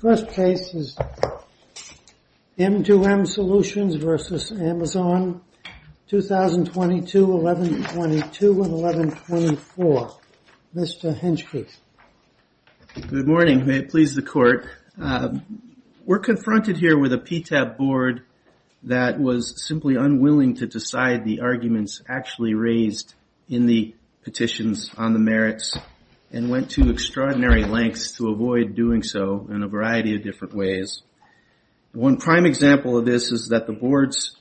First case is M2M Solutions v. Amazon, 2022-11-22 and 11-24. Mr. Hinchke. Good morning. May it please the court. We're confronted here with a PTAB board that was simply unwilling to decide the arguments actually raised in the petitions on the merits and went to extraordinary lengths to avoid doing so in a variety of different ways. One prime example of this is that the boards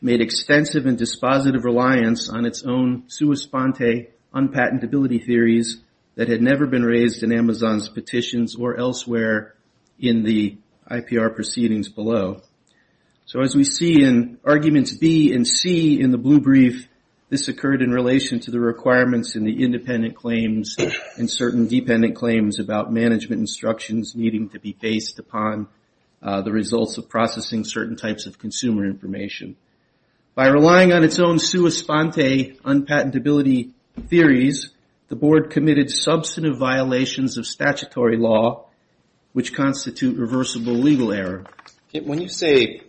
made extensive and dispositive reliance on its own sua sponte, unpatentability theories that had never been raised in Amazon's petitions or elsewhere in the IPR proceedings below. So as we see in arguments B and C in the blue brief, this occurred in relation to the requirements in the independent claims and certain dependent claims about management instructions needing to be based upon the results of processing certain types of consumer information. By relying on its own sua sponte, unpatentability theories, the board committed substantive violations of statutory law which constitute reversible legal error. When you say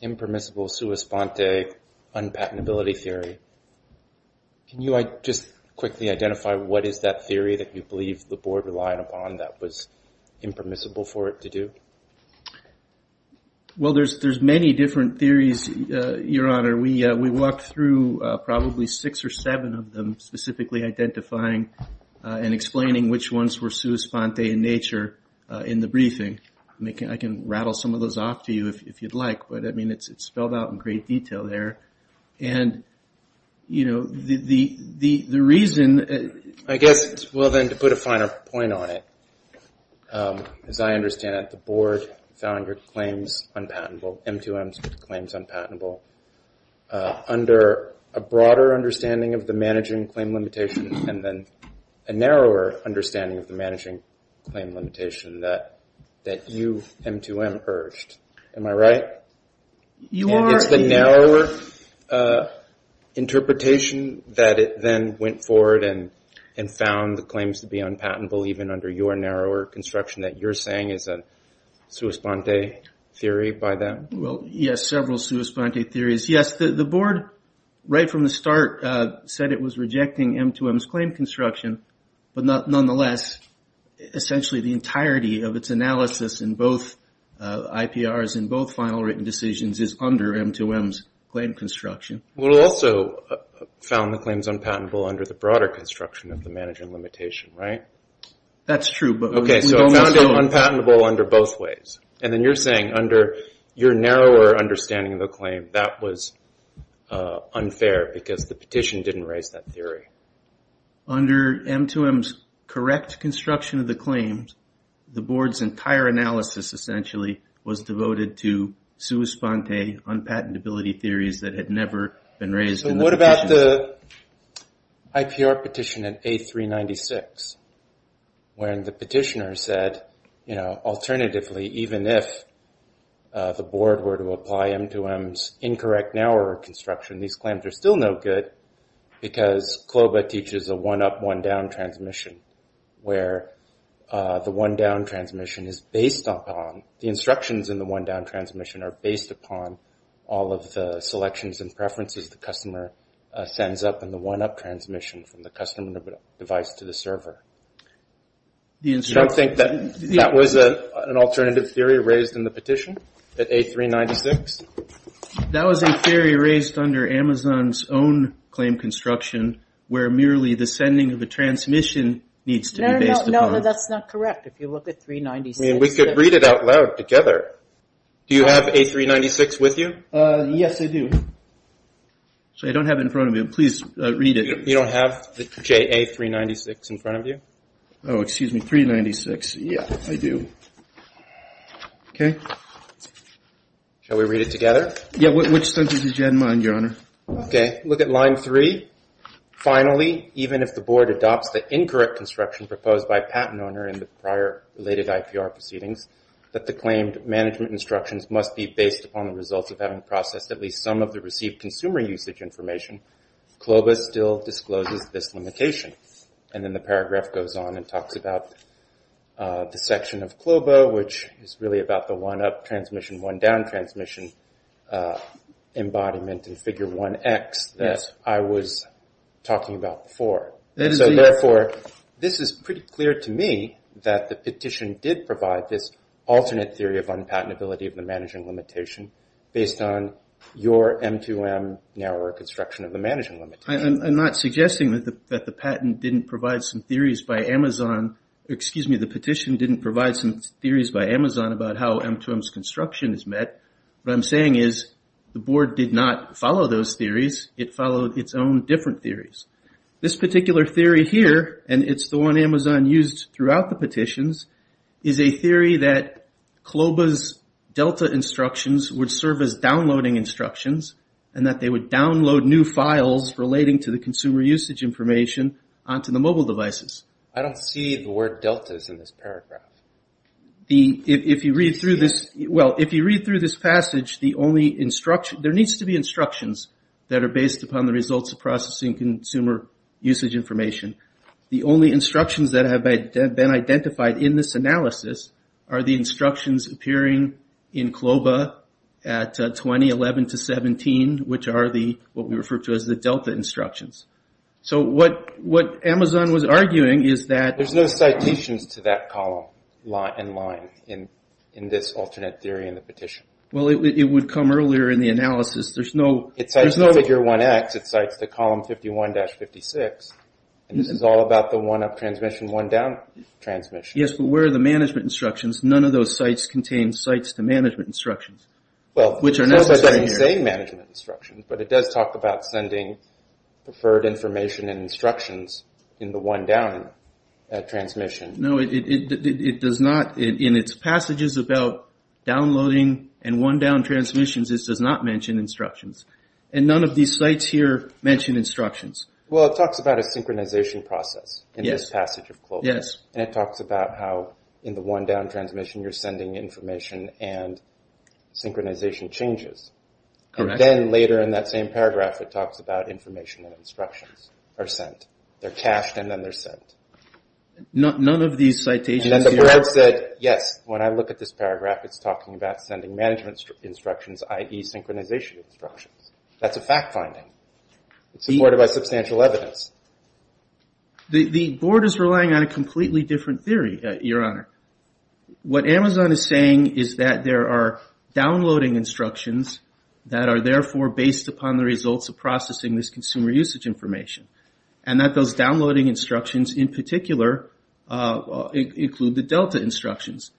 impermissible sua sponte, unpatentability theory, can you just quickly identify what is that theory that you believe the board relied upon that was impermissible for it to do? Well, there's many different theories, Your Honor. We walked through probably six or seven of them specifically identifying and explaining which ones were sua sponte in nature in the briefing. I can rattle some of those off to you if you'd like, but I mean it's spelled out in great detail there. And, you know, the reason... I guess, well, then, to put a finer point on it, as I understand it, the board found your claims unpatentable, M2M's claims unpatentable, under a broader understanding of the managing claim limitation and then a narrower understanding of the managing claim limitation that you, M2M, urged. Am I right? And it's the narrower interpretation that it then went forward and found the claims to be unpatentable even under your narrower construction that you're saying is a sua sponte theory by them? Well, yes, several sua sponte theories. Yes, the board, right from the start, said it was rejecting M2M's claim construction, but nonetheless, essentially the entirety of its analysis in both IPRs and both final written decisions is under M2M's claim construction. Well, it also found the claims unpatentable under the broader construction of the managing limitation, right? That's true, but... Okay, so it found it unpatentable under both ways. And then you're saying under your narrower understanding of the claim, that was unfair because the petition didn't raise that theory. Under M2M's correct construction of the claims, the board's entire analysis essentially was devoted to sua sponte, unpatentability theories that had never been raised in the petition. So what about the IPR petition in A396, when the petitioner said, you know, alternatively, even if the board were to apply M2M's incorrect narrower construction, these claims are still no good because CLOBA teaches a one-up, one-down transmission, where the one-down transmission is based upon, the instructions in the one-down transmission are based upon all of the selections and preferences the customer sends up in the one-up transmission from the customer device to the server. You don't think that was an alternative theory raised in the petition at A396? That was a theory raised under Amazon's own claim construction, where merely the sending of a transmission needs to be based upon... No, no, no, that's not correct. If you look at 396... I mean, we could read it out loud together. Do you have A396 with you? Yes, I do. So I don't have it in front of me. Please read it. You don't have the JA396 in front of you? Oh, excuse me, 396. Yeah, I do. Okay. Shall we read it together? Yeah, which sentence did you have in mind, Your Honor? Okay, look at line 3. Finally, even if the board adopts the incorrect construction proposed by a patent owner in the prior related IPR proceedings, that the claimed management instructions must be based upon the results of having processed at least some of the received consumer usage information, CLOBA still discloses this limitation. And then the paragraph goes on and talks about the section of CLOBA, which is really about the one-up transmission, one-down transmission embodiment in Figure 1X that I was talking about before. So therefore, this is pretty clear to me that the petition did provide this alternate theory of unpatentability of the managing limitation based on your M2M narrower construction of the managing limitation. I'm not suggesting that the patent didn't provide some theories by Amazon. Excuse me, the petition didn't provide some theories by Amazon about how M2M's construction is met. What I'm saying is the board did not follow those theories. It followed its own different theories. This particular theory here, and it's the one Amazon used throughout the petitions, is a theory that CLOBA's DELTA instructions would serve as downloading instructions and that they would download new files relating to the consumer usage information onto the mobile devices. I don't see the word DELTA's in this paragraph. If you read through this passage, there needs to be instructions that are based upon the results of processing consumer usage information. The only instructions that have been identified in this analysis are the instructions appearing in CLOBA at 2011-17, which are what we refer to as the DELTA instructions. What Amazon was arguing is that... There's no citations to that column and line in this alternate theory in the petition. It would come earlier in the analysis. It cites the figure 1X. It cites the column 51-56. This is all about the one-up transmission, one-down transmission. Yes, but where are the management instructions? None of those sites contain sites to management instructions. Well, CLOBA doesn't say management instructions, but it does talk about sending preferred information and instructions in the one-down transmission. No, it does not. In its passages about downloading and one-down transmissions, it does not mention instructions. None of these sites here mention instructions. Well, it talks about a synchronization process in this passage of CLOBA. Yes. And it talks about how in the one-down transmission you're sending information and synchronization changes. Correct. Then later in that same paragraph, it talks about information and instructions are sent. They're cached and then they're sent. None of these citations... And then the board said, yes, when I look at this paragraph, it's talking about sending management instructions, i.e. synchronization instructions. That's a fact-finding. It's supported by substantial evidence. The board is relying on a completely different theory, Your Honor. What Amazon is saying is that there are downloading instructions that are therefore based upon the results of processing this consumer usage information and that those downloading instructions in particular include the DELTA instructions.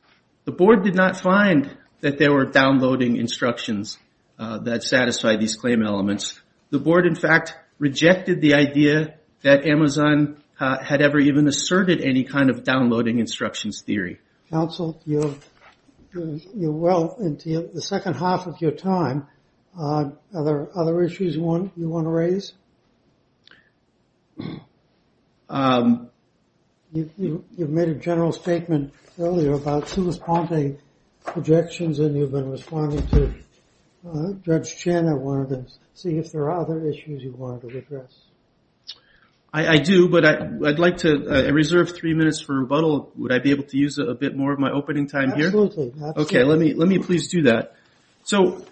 The board did not find that there were downloading instructions that satisfy these claim elements. The board, in fact, rejected the idea that Amazon had ever even asserted any kind of downloading instructions theory. Counsel, you're well into the second half of your time. Are there other issues you want to raise? You made a general statement earlier about super-spontane projections and you've been responding to Judge Chin on one of them. See if there are other issues you wanted to address. I do, but I'd like to reserve three minutes for rebuttal. Would I be able to use a bit more of my opening time here? Absolutely. Okay, let me please do that. So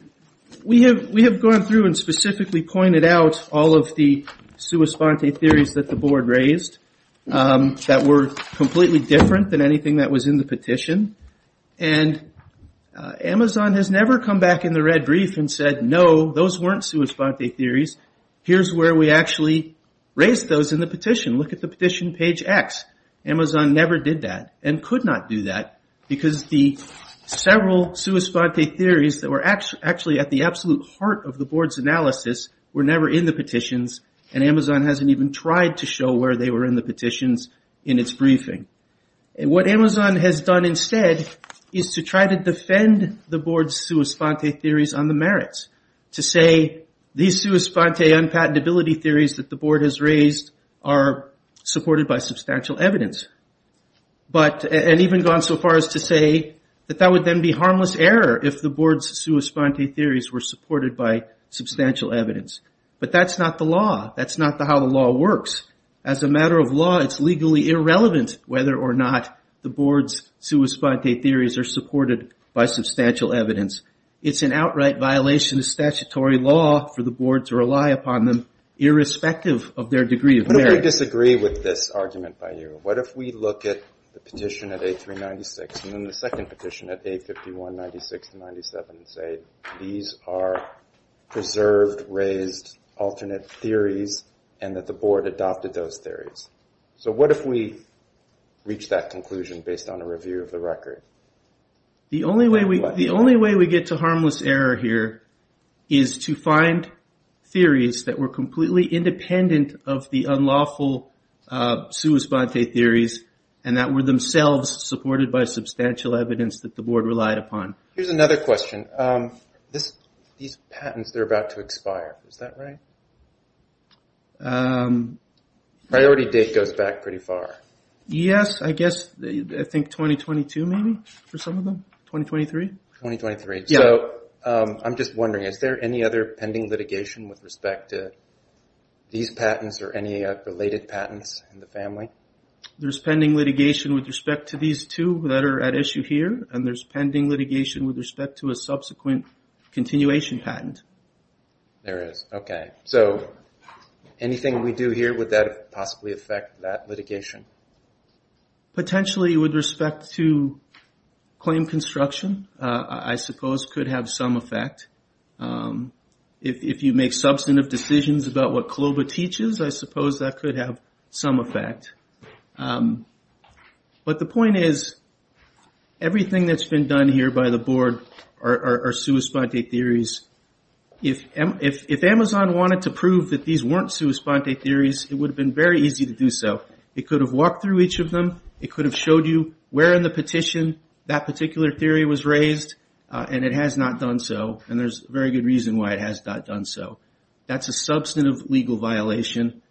we have gone through and specifically pointed out all of the sui sponte theories that the board raised that were completely different than anything that was in the petition. And Amazon has never come back in the red brief and said, no, those weren't sui sponte theories. Here's where we actually raised those in the petition. Look at the petition page X. Amazon never did that and could not do that because the several sui sponte theories that were actually at the absolute heart of the board's analysis were never in the petitions and Amazon hasn't even tried to show where they were in the petitions in its briefing. What Amazon has done instead is to try to defend the board's sui sponte theories on the merits, to say these sui sponte unpatentability theories that the board has raised are supported by substantial evidence. And even gone so far as to say that that would then be harmless error if the board's sui sponte theories were supported by substantial evidence. But that's not the law. That's not how the law works. As a matter of law, it's legally irrelevant whether or not the board's sui sponte theories are supported by substantial evidence. It's an outright violation of statutory law for the board to rely upon them irrespective of their degree of merit. What if we disagree with this argument by you? What if we look at the petition at A396 and then the second petition at A5196-97 and say these are preserved, raised, alternate theories and that the board adopted those theories? So what if we reach that conclusion based on a review of the record? The only way we get to harmless error here is to find theories that were completely independent of the unlawful sui sponte theories and that were themselves supported by substantial evidence that the board relied upon. Here's another question. These patents, they're about to expire. Is that right? Priority date goes back pretty far. Yes, I guess I think 2022 maybe for some of them. 2023? 2023. So I'm just wondering, is there any other pending litigation with respect to these patents or any related patents in the family? There's pending litigation with respect to these two that are at issue here, and there's pending litigation with respect to a subsequent continuation patent. There is. Okay. So anything we do here, would that possibly affect that litigation? Potentially with respect to claim construction, I suppose could have some effect. If you make substantive decisions about what CLOBA teaches, I suppose that could have some effect. But the point is, everything that's been done here by the board are sui sponte theories. If Amazon wanted to prove that these weren't sui sponte theories, it would have been very easy to do so. It could have walked through each of them. It could have showed you where in the petition that particular theory was raised, and it has not done so, and there's a very good reason why it has not done so. That's a substantive legal violation.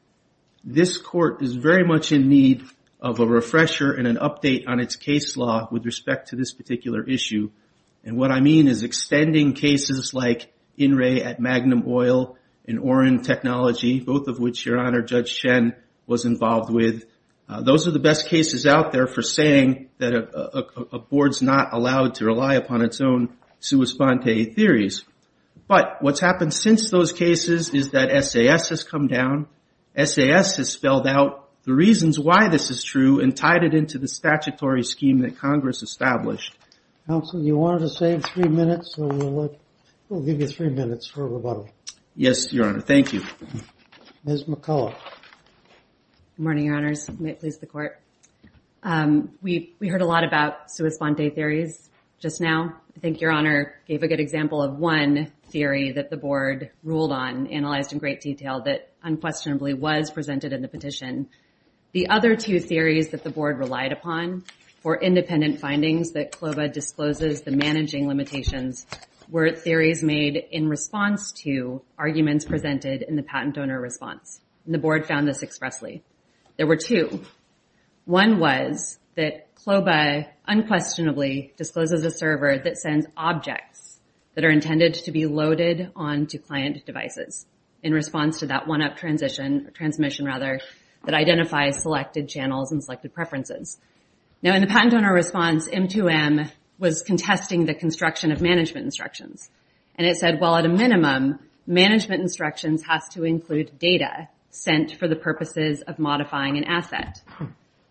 This court is very much in need of a refresher and an update on its case law with respect to this particular issue. And what I mean is extending cases like INRAE at Magnum Oil and Oren Technology, both of which Your Honor, Judge Shen was involved with. Those are the best cases out there for saying that a board's not allowed to rely upon its own sui sponte theories. But what's happened since those cases is that SAS has come down. SAS has spelled out the reasons why this is true and tied it into the statutory scheme that Congress established. Counsel, you wanted to save three minutes, so we'll give you three minutes for rebuttal. Yes, Your Honor. Thank you. Ms. McCullough. Good morning, Your Honors. May it please the Court. We heard a lot about sui sponte theories just now. I think Your Honor gave a good example of one theory that the board ruled on, analyzed in great detail, that unquestionably was presented in the petition. The other two theories that the board relied upon for independent findings that CLOBA discloses the managing limitations were theories made in response to arguments presented in the patent donor response. And the board found this expressly. There were two. One was that CLOBA unquestionably discloses a server that sends objects that are intended to be loaded onto client devices in response to that one-up transmission that identifies selected channels and selected preferences. Now, in the patent donor response, M2M was contesting the construction of management instructions. And it said, well, at a minimum, management instructions has to include data sent for the purposes of modifying an asset.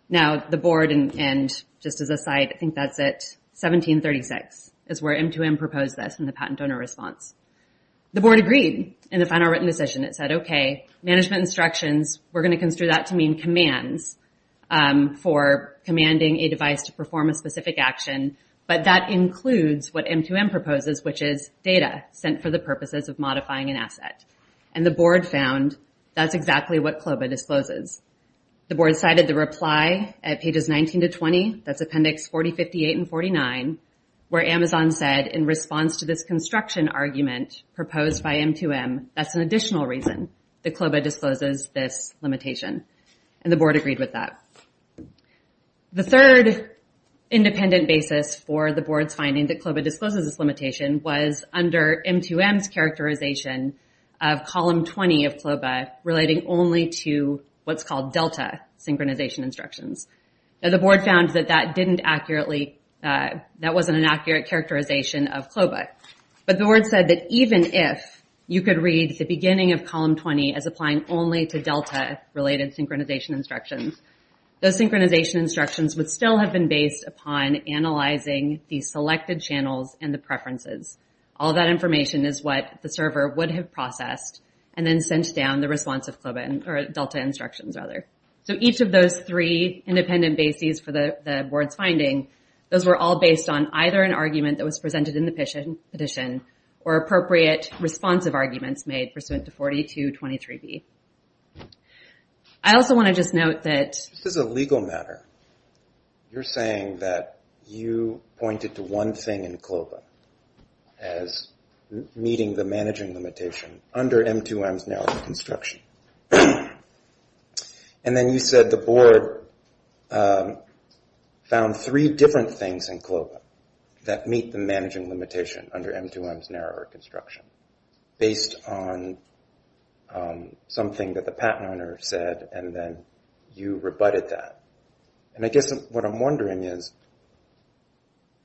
Now, the board, and just as a side, I think that's at 1736, is where M2M proposed this in the patent donor response. The board agreed in the final written decision. It said, okay, management instructions, we're going to construe that to mean commands for commanding a device to perform a specific action, but that includes what M2M proposes, which is data sent for the purposes of modifying an asset. And the board found that's exactly what CLOBA discloses. The board cited the reply at pages 19 to 20, that's appendix 40, 58, and 49, where Amazon said in response to this construction argument proposed by M2M, that's an additional reason that CLOBA discloses this limitation. And the board agreed with that. The third independent basis for the board's finding that CLOBA discloses this limitation was under M2M's characterization of column 20 of CLOBA relating only to what's called delta synchronization instructions. Now, the board found that that didn't accurately, that wasn't an accurate characterization of CLOBA. But the board said that even if you could read the beginning of column 20 as applying only to delta-related synchronization instructions, those synchronization instructions would still have been based upon analyzing the selected channels and the preferences. All that information is what the server would have processed and then sent down the response of CLOBA, or delta instructions, rather. So each of those three independent bases for the board's finding, those were all based on either an argument that was presented in the petition or appropriate responsive arguments made pursuant to 4223B. I also want to just note that... This is a legal matter. You're saying that you pointed to one thing in CLOBA as meeting the managing limitation under M2M's narrower construction. And then you said the board found three different things in CLOBA that meet the managing limitation under M2M's narrower construction based on something that the patent owner said, and then you rebutted that. And I guess what I'm wondering is,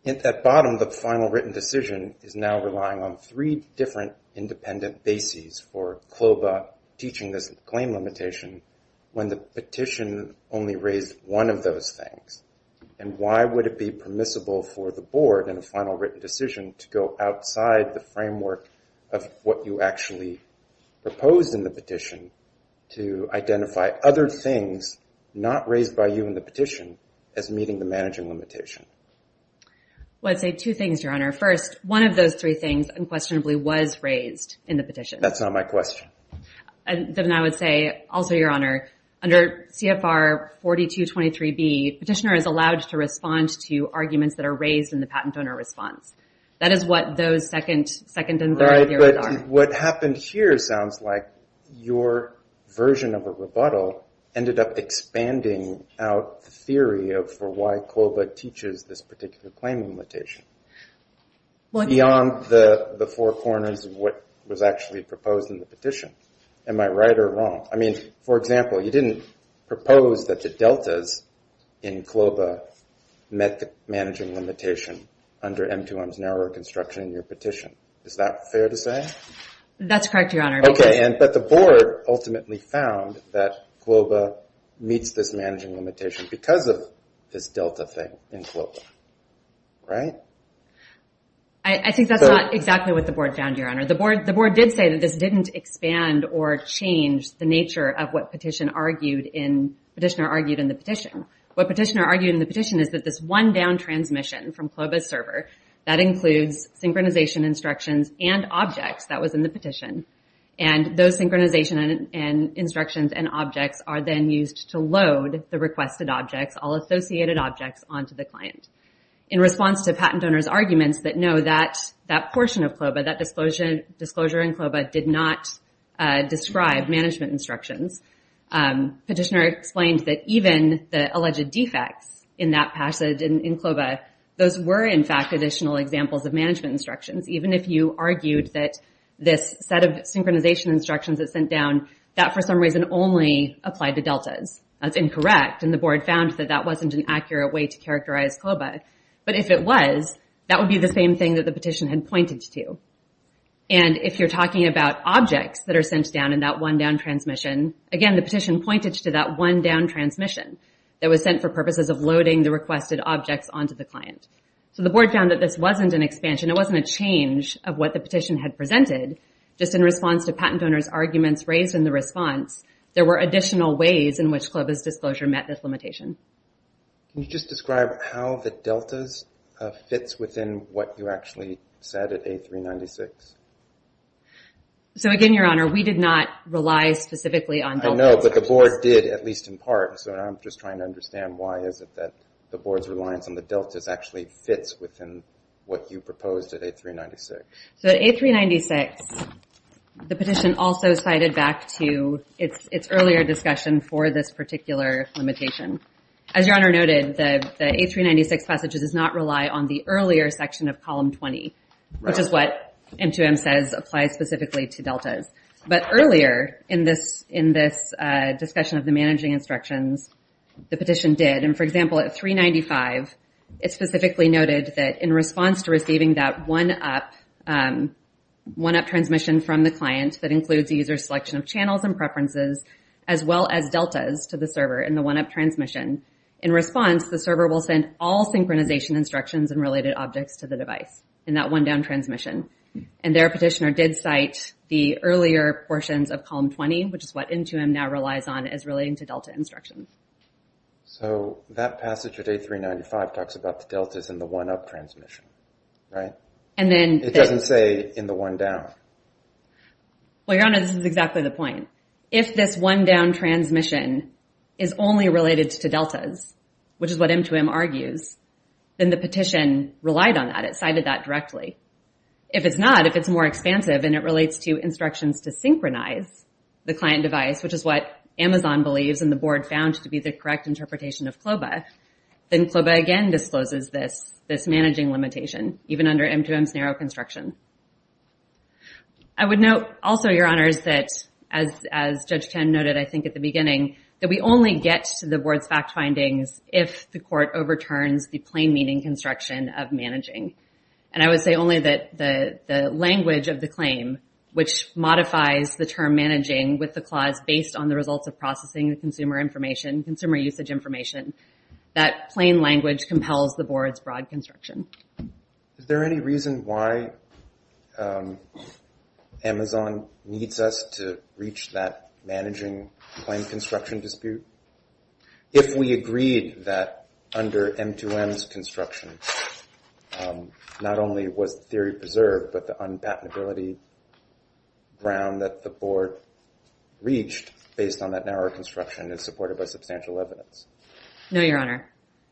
at the bottom, the final written decision is now relying on three different independent bases for CLOBA teaching this claim limitation when the petition only raised one of those things. And why would it be permissible for the board in a final written decision to go outside the framework of what you actually proposed in the petition to identify other things not raised by you in the petition as meeting the managing limitation? Well, I'd say two things, Your Honor. First, one of those three things unquestionably was raised in the petition. That's not my question. Then I would say, also, Your Honor, under CFR 4223B, petitioner is allowed to respond to arguments that are raised in the patent owner response. That is what those second and third areas are. Right, but what happened here sounds like your version of a rebuttal ended up expanding out the theory for why CLOBA teaches this particular claiming limitation beyond the four corners of what was actually proposed in the petition. Am I right or wrong? I mean, for example, you didn't propose that the deltas in CLOBA met the managing limitation under M2M's narrower construction in your petition. Is that fair to say? That's correct, Your Honor. Okay, but the board ultimately found that CLOBA meets this managing limitation because of this delta thing in CLOBA. Right? I think that's not exactly what the board found, Your Honor. The board did say that this didn't expand or change the nature of what petitioner argued in the petition. What petitioner argued in the petition is that this one down transmission from CLOBA's server, that includes synchronization instructions and objects that was in the petition. Those synchronization instructions and objects are then used to load the requested objects, all associated objects, onto the client. In response to patent donors' arguments that no, that portion of CLOBA, that disclosure in CLOBA, did not describe management instructions, petitioner explained that even the alleged defects in that passage in CLOBA, those were, in fact, additional examples of management instructions. Even if you argued that this set of synchronization instructions it sent down, that, for some reason, only applied to deltas. That's incorrect, and the board found that that wasn't an accurate way to characterize CLOBA. But if it was, that would be the same thing that the petition had pointed to. And if you're talking about objects that are sent down in that one down transmission, again, the petition pointed to that one down transmission that was sent for purposes of loading the requested objects onto the client. So the board found that this wasn't an expansion. It wasn't a change of what the petition had presented. Just in response to patent donors' arguments raised in the response, there were additional ways in which CLOBA's disclosure met this limitation. Can you just describe how the deltas fits within what you actually said at A396? So again, Your Honor, we did not rely specifically on deltas. I know, but the board did, at least in part. So I'm just trying to understand why is it that the board's reliance on the deltas actually fits within what you proposed at A396. So at A396, the petition also cited back to its earlier discussion for this particular limitation. As Your Honor noted, the A396 passage does not rely on the earlier section of Column 20, which is what M2M says applies specifically to deltas. But earlier in this discussion of the managing instructions, the petition did. And for example, at 395, it specifically noted that in response to receiving that one-up transmission from the client that includes user selection of channels and preferences, as well as deltas to the server in the one-up transmission, in response, the server will send all synchronization instructions and related objects to the device in that one-down transmission. And their petitioner did cite the earlier portions of Column 20, which is what M2M now relies on as relating to delta instructions. So that passage at A395 talks about the deltas in the one-up transmission, right? It doesn't say in the one-down. Well, Your Honor, this is exactly the point. If this one-down transmission is only related to deltas, which is what M2M argues, then the petition relied on that. It cited that directly. If it's not, if it's more expansive and it relates to instructions to synchronize the client device, which is what Amazon believes and the Board found to be the correct interpretation of CLOBA, then CLOBA again discloses this managing limitation, even under M2M's narrow construction. I would note also, Your Honors, that as Judge Tan noted, I think, at the beginning, that we only get to the Board's fact findings if the Court overturns the plain meaning construction of managing. And I would say only that the language of the claim, which modifies the term managing with the clause based on the results of processing the consumer information, consumer usage information, that plain language compels the Board's broad construction. Is there any reason why Amazon needs us to reach that managing claim construction dispute? If we agreed that under M2M's construction, not only was theory preserved, but the unpatentability ground that the Board reached based on that narrow construction is supported by substantial evidence? No, Your Honor.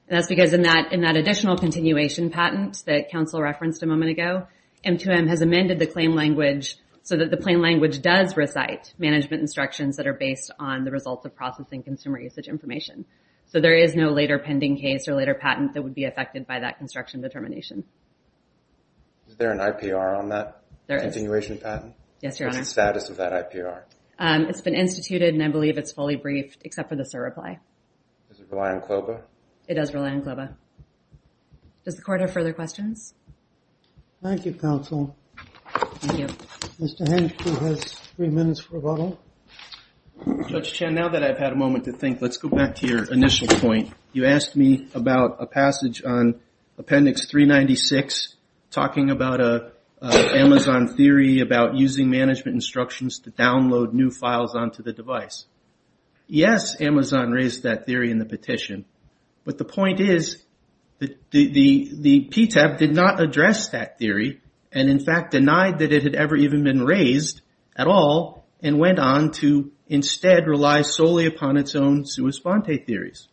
And that's because in that additional continuation patent that counsel referenced a moment ago, M2M has amended the claim language so that the plain language does recite management instructions that are based on the results of processing consumer usage information. So there is no later pending case or later patent that would be affected by that construction determination. Is there an IPR on that continuation patent? Yes, Your Honor. What's the status of that IPR? It's been instituted and I believe it's fully briefed, except for the SIR reply. Does it rely on CLOBA? It does rely on CLOBA. Does the Court have further questions? Thank you, counsel. Thank you. Mr. Hench, who has three minutes for rebuttal. Judge Chen, now that I've had a moment to think, let's go back to your initial point. You asked me about a passage on Appendix 396 talking about an Amazon theory about using management instructions to download new files onto the device. Yes, Amazon raised that theory in the petition. But the point is that the PTAB did not address that theory and in fact denied that it had ever even been raised at all and went on to instead rely solely upon its own sua sponte theories.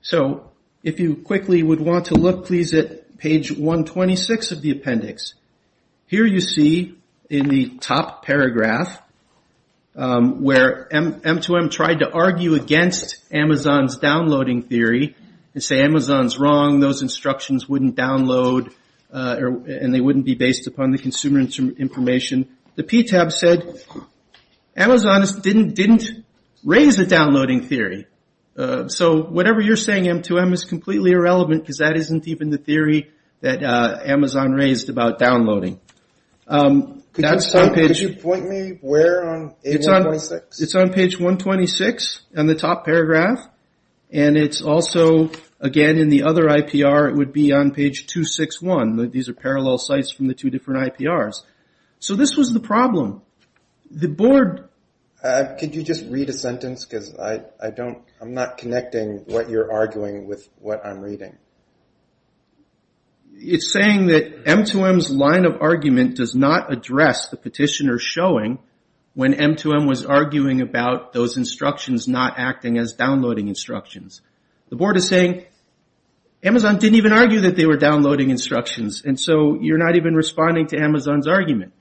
So if you quickly would want to look, please, at page 126 of the appendix. Here you see in the top paragraph where M2M tried to argue against Amazon's downloading theory and say Amazon's wrong, those instructions wouldn't download and they wouldn't be based upon the consumer information. The PTAB said Amazon didn't raise a downloading theory. So whatever you're saying, M2M, is completely irrelevant because that isn't even the theory that Amazon raised about downloading. Could you point me where on page 126? It's on page 126 in the top paragraph. And it's also, again, in the other IPR, it would be on page 261. These are parallel sites from the two different IPRs. So this was the problem. Could you just read a sentence because I'm not connecting what you're arguing with what I'm reading. It's saying that M2M's line of argument does not address the petitioner's showing when M2M was arguing about those instructions not acting as downloading instructions. The board is saying Amazon didn't even argue that they were downloading instructions and so you're not even responding to Amazon's argument.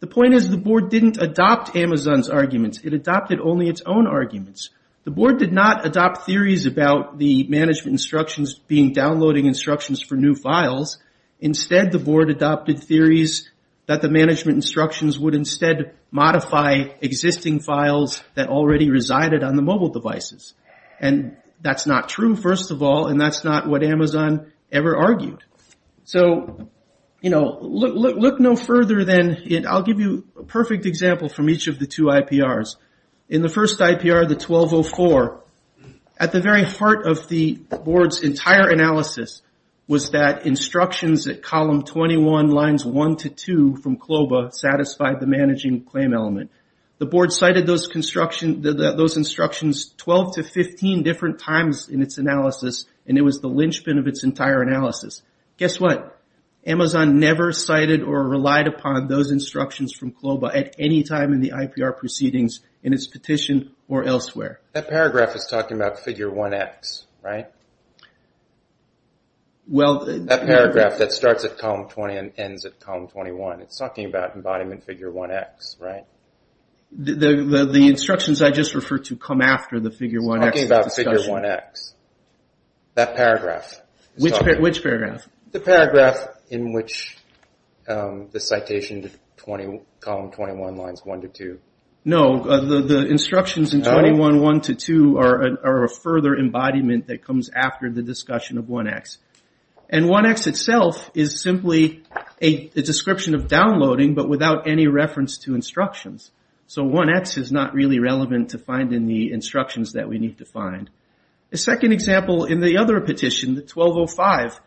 The point is the board didn't adopt Amazon's arguments. It adopted only its own arguments. The board did not adopt theories about the management instructions being downloading instructions for new files. Instead, the board adopted theories that the management instructions would instead modify existing files that already resided on the mobile devices. And that's not true, first of all, and that's not what Amazon ever argued. So, you know, look no further than, I'll give you a perfect example from each of the two IPRs. In the first IPR, the 1204, at the very heart of the board's entire analysis was that instructions at column 21, lines 1 to 2 from CLOBA satisfied the managing claim element. The board cited those instructions 12 to 15 different times in its analysis and it was the linchpin of its entire analysis. Guess what? Amazon never cited or relied upon those instructions from CLOBA at any time in the IPR proceedings, in its petition or elsewhere. That paragraph is talking about figure 1X, right? That paragraph that starts at column 20 and ends at column 21. It's talking about embodiment figure 1X, right? The instructions I just referred to come after the figure 1X. It's talking about figure 1X. That paragraph. Which paragraph? The paragraph in which the citation to column 21 lines 1 to 2. No, the instructions in 21.1 to 2 are a further embodiment that comes after the discussion of 1X. And 1X itself is simply a description of downloading but without any reference to instructions. So 1X is not really relevant to finding the instructions that we need to find. The second example in the other petition, the 1205.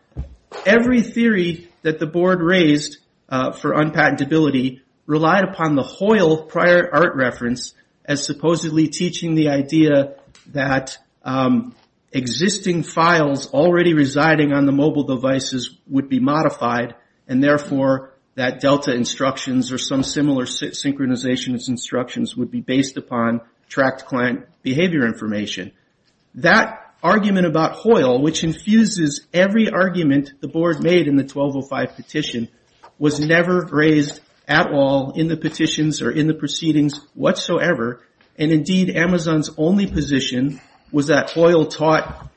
Every theory that the board raised for unpatentability relied upon the Hoyle prior art reference as supposedly teaching the idea that existing files already residing on the mobile devices would be modified and therefore that Delta instructions or some similar synchronization instructions would be based upon tracked client behavior information. That argument about Hoyle, which infuses every argument the board made in the 1205 petition, was never raised at all in the petitions or in the proceedings whatsoever. And indeed, Amazon's only position was that Hoyle taught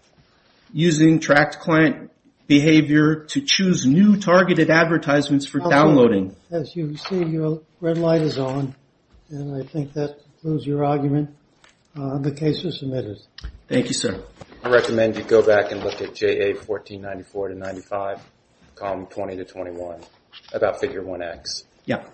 using tracked client behavior to choose new targeted advertisements for downloading. As you see, your red light is on, and I think that concludes your argument. The case is submitted. Thank you, sir. I recommend you go back and look at JA 1494 to 95, column 20 to 21, about figure 1X. Yeah.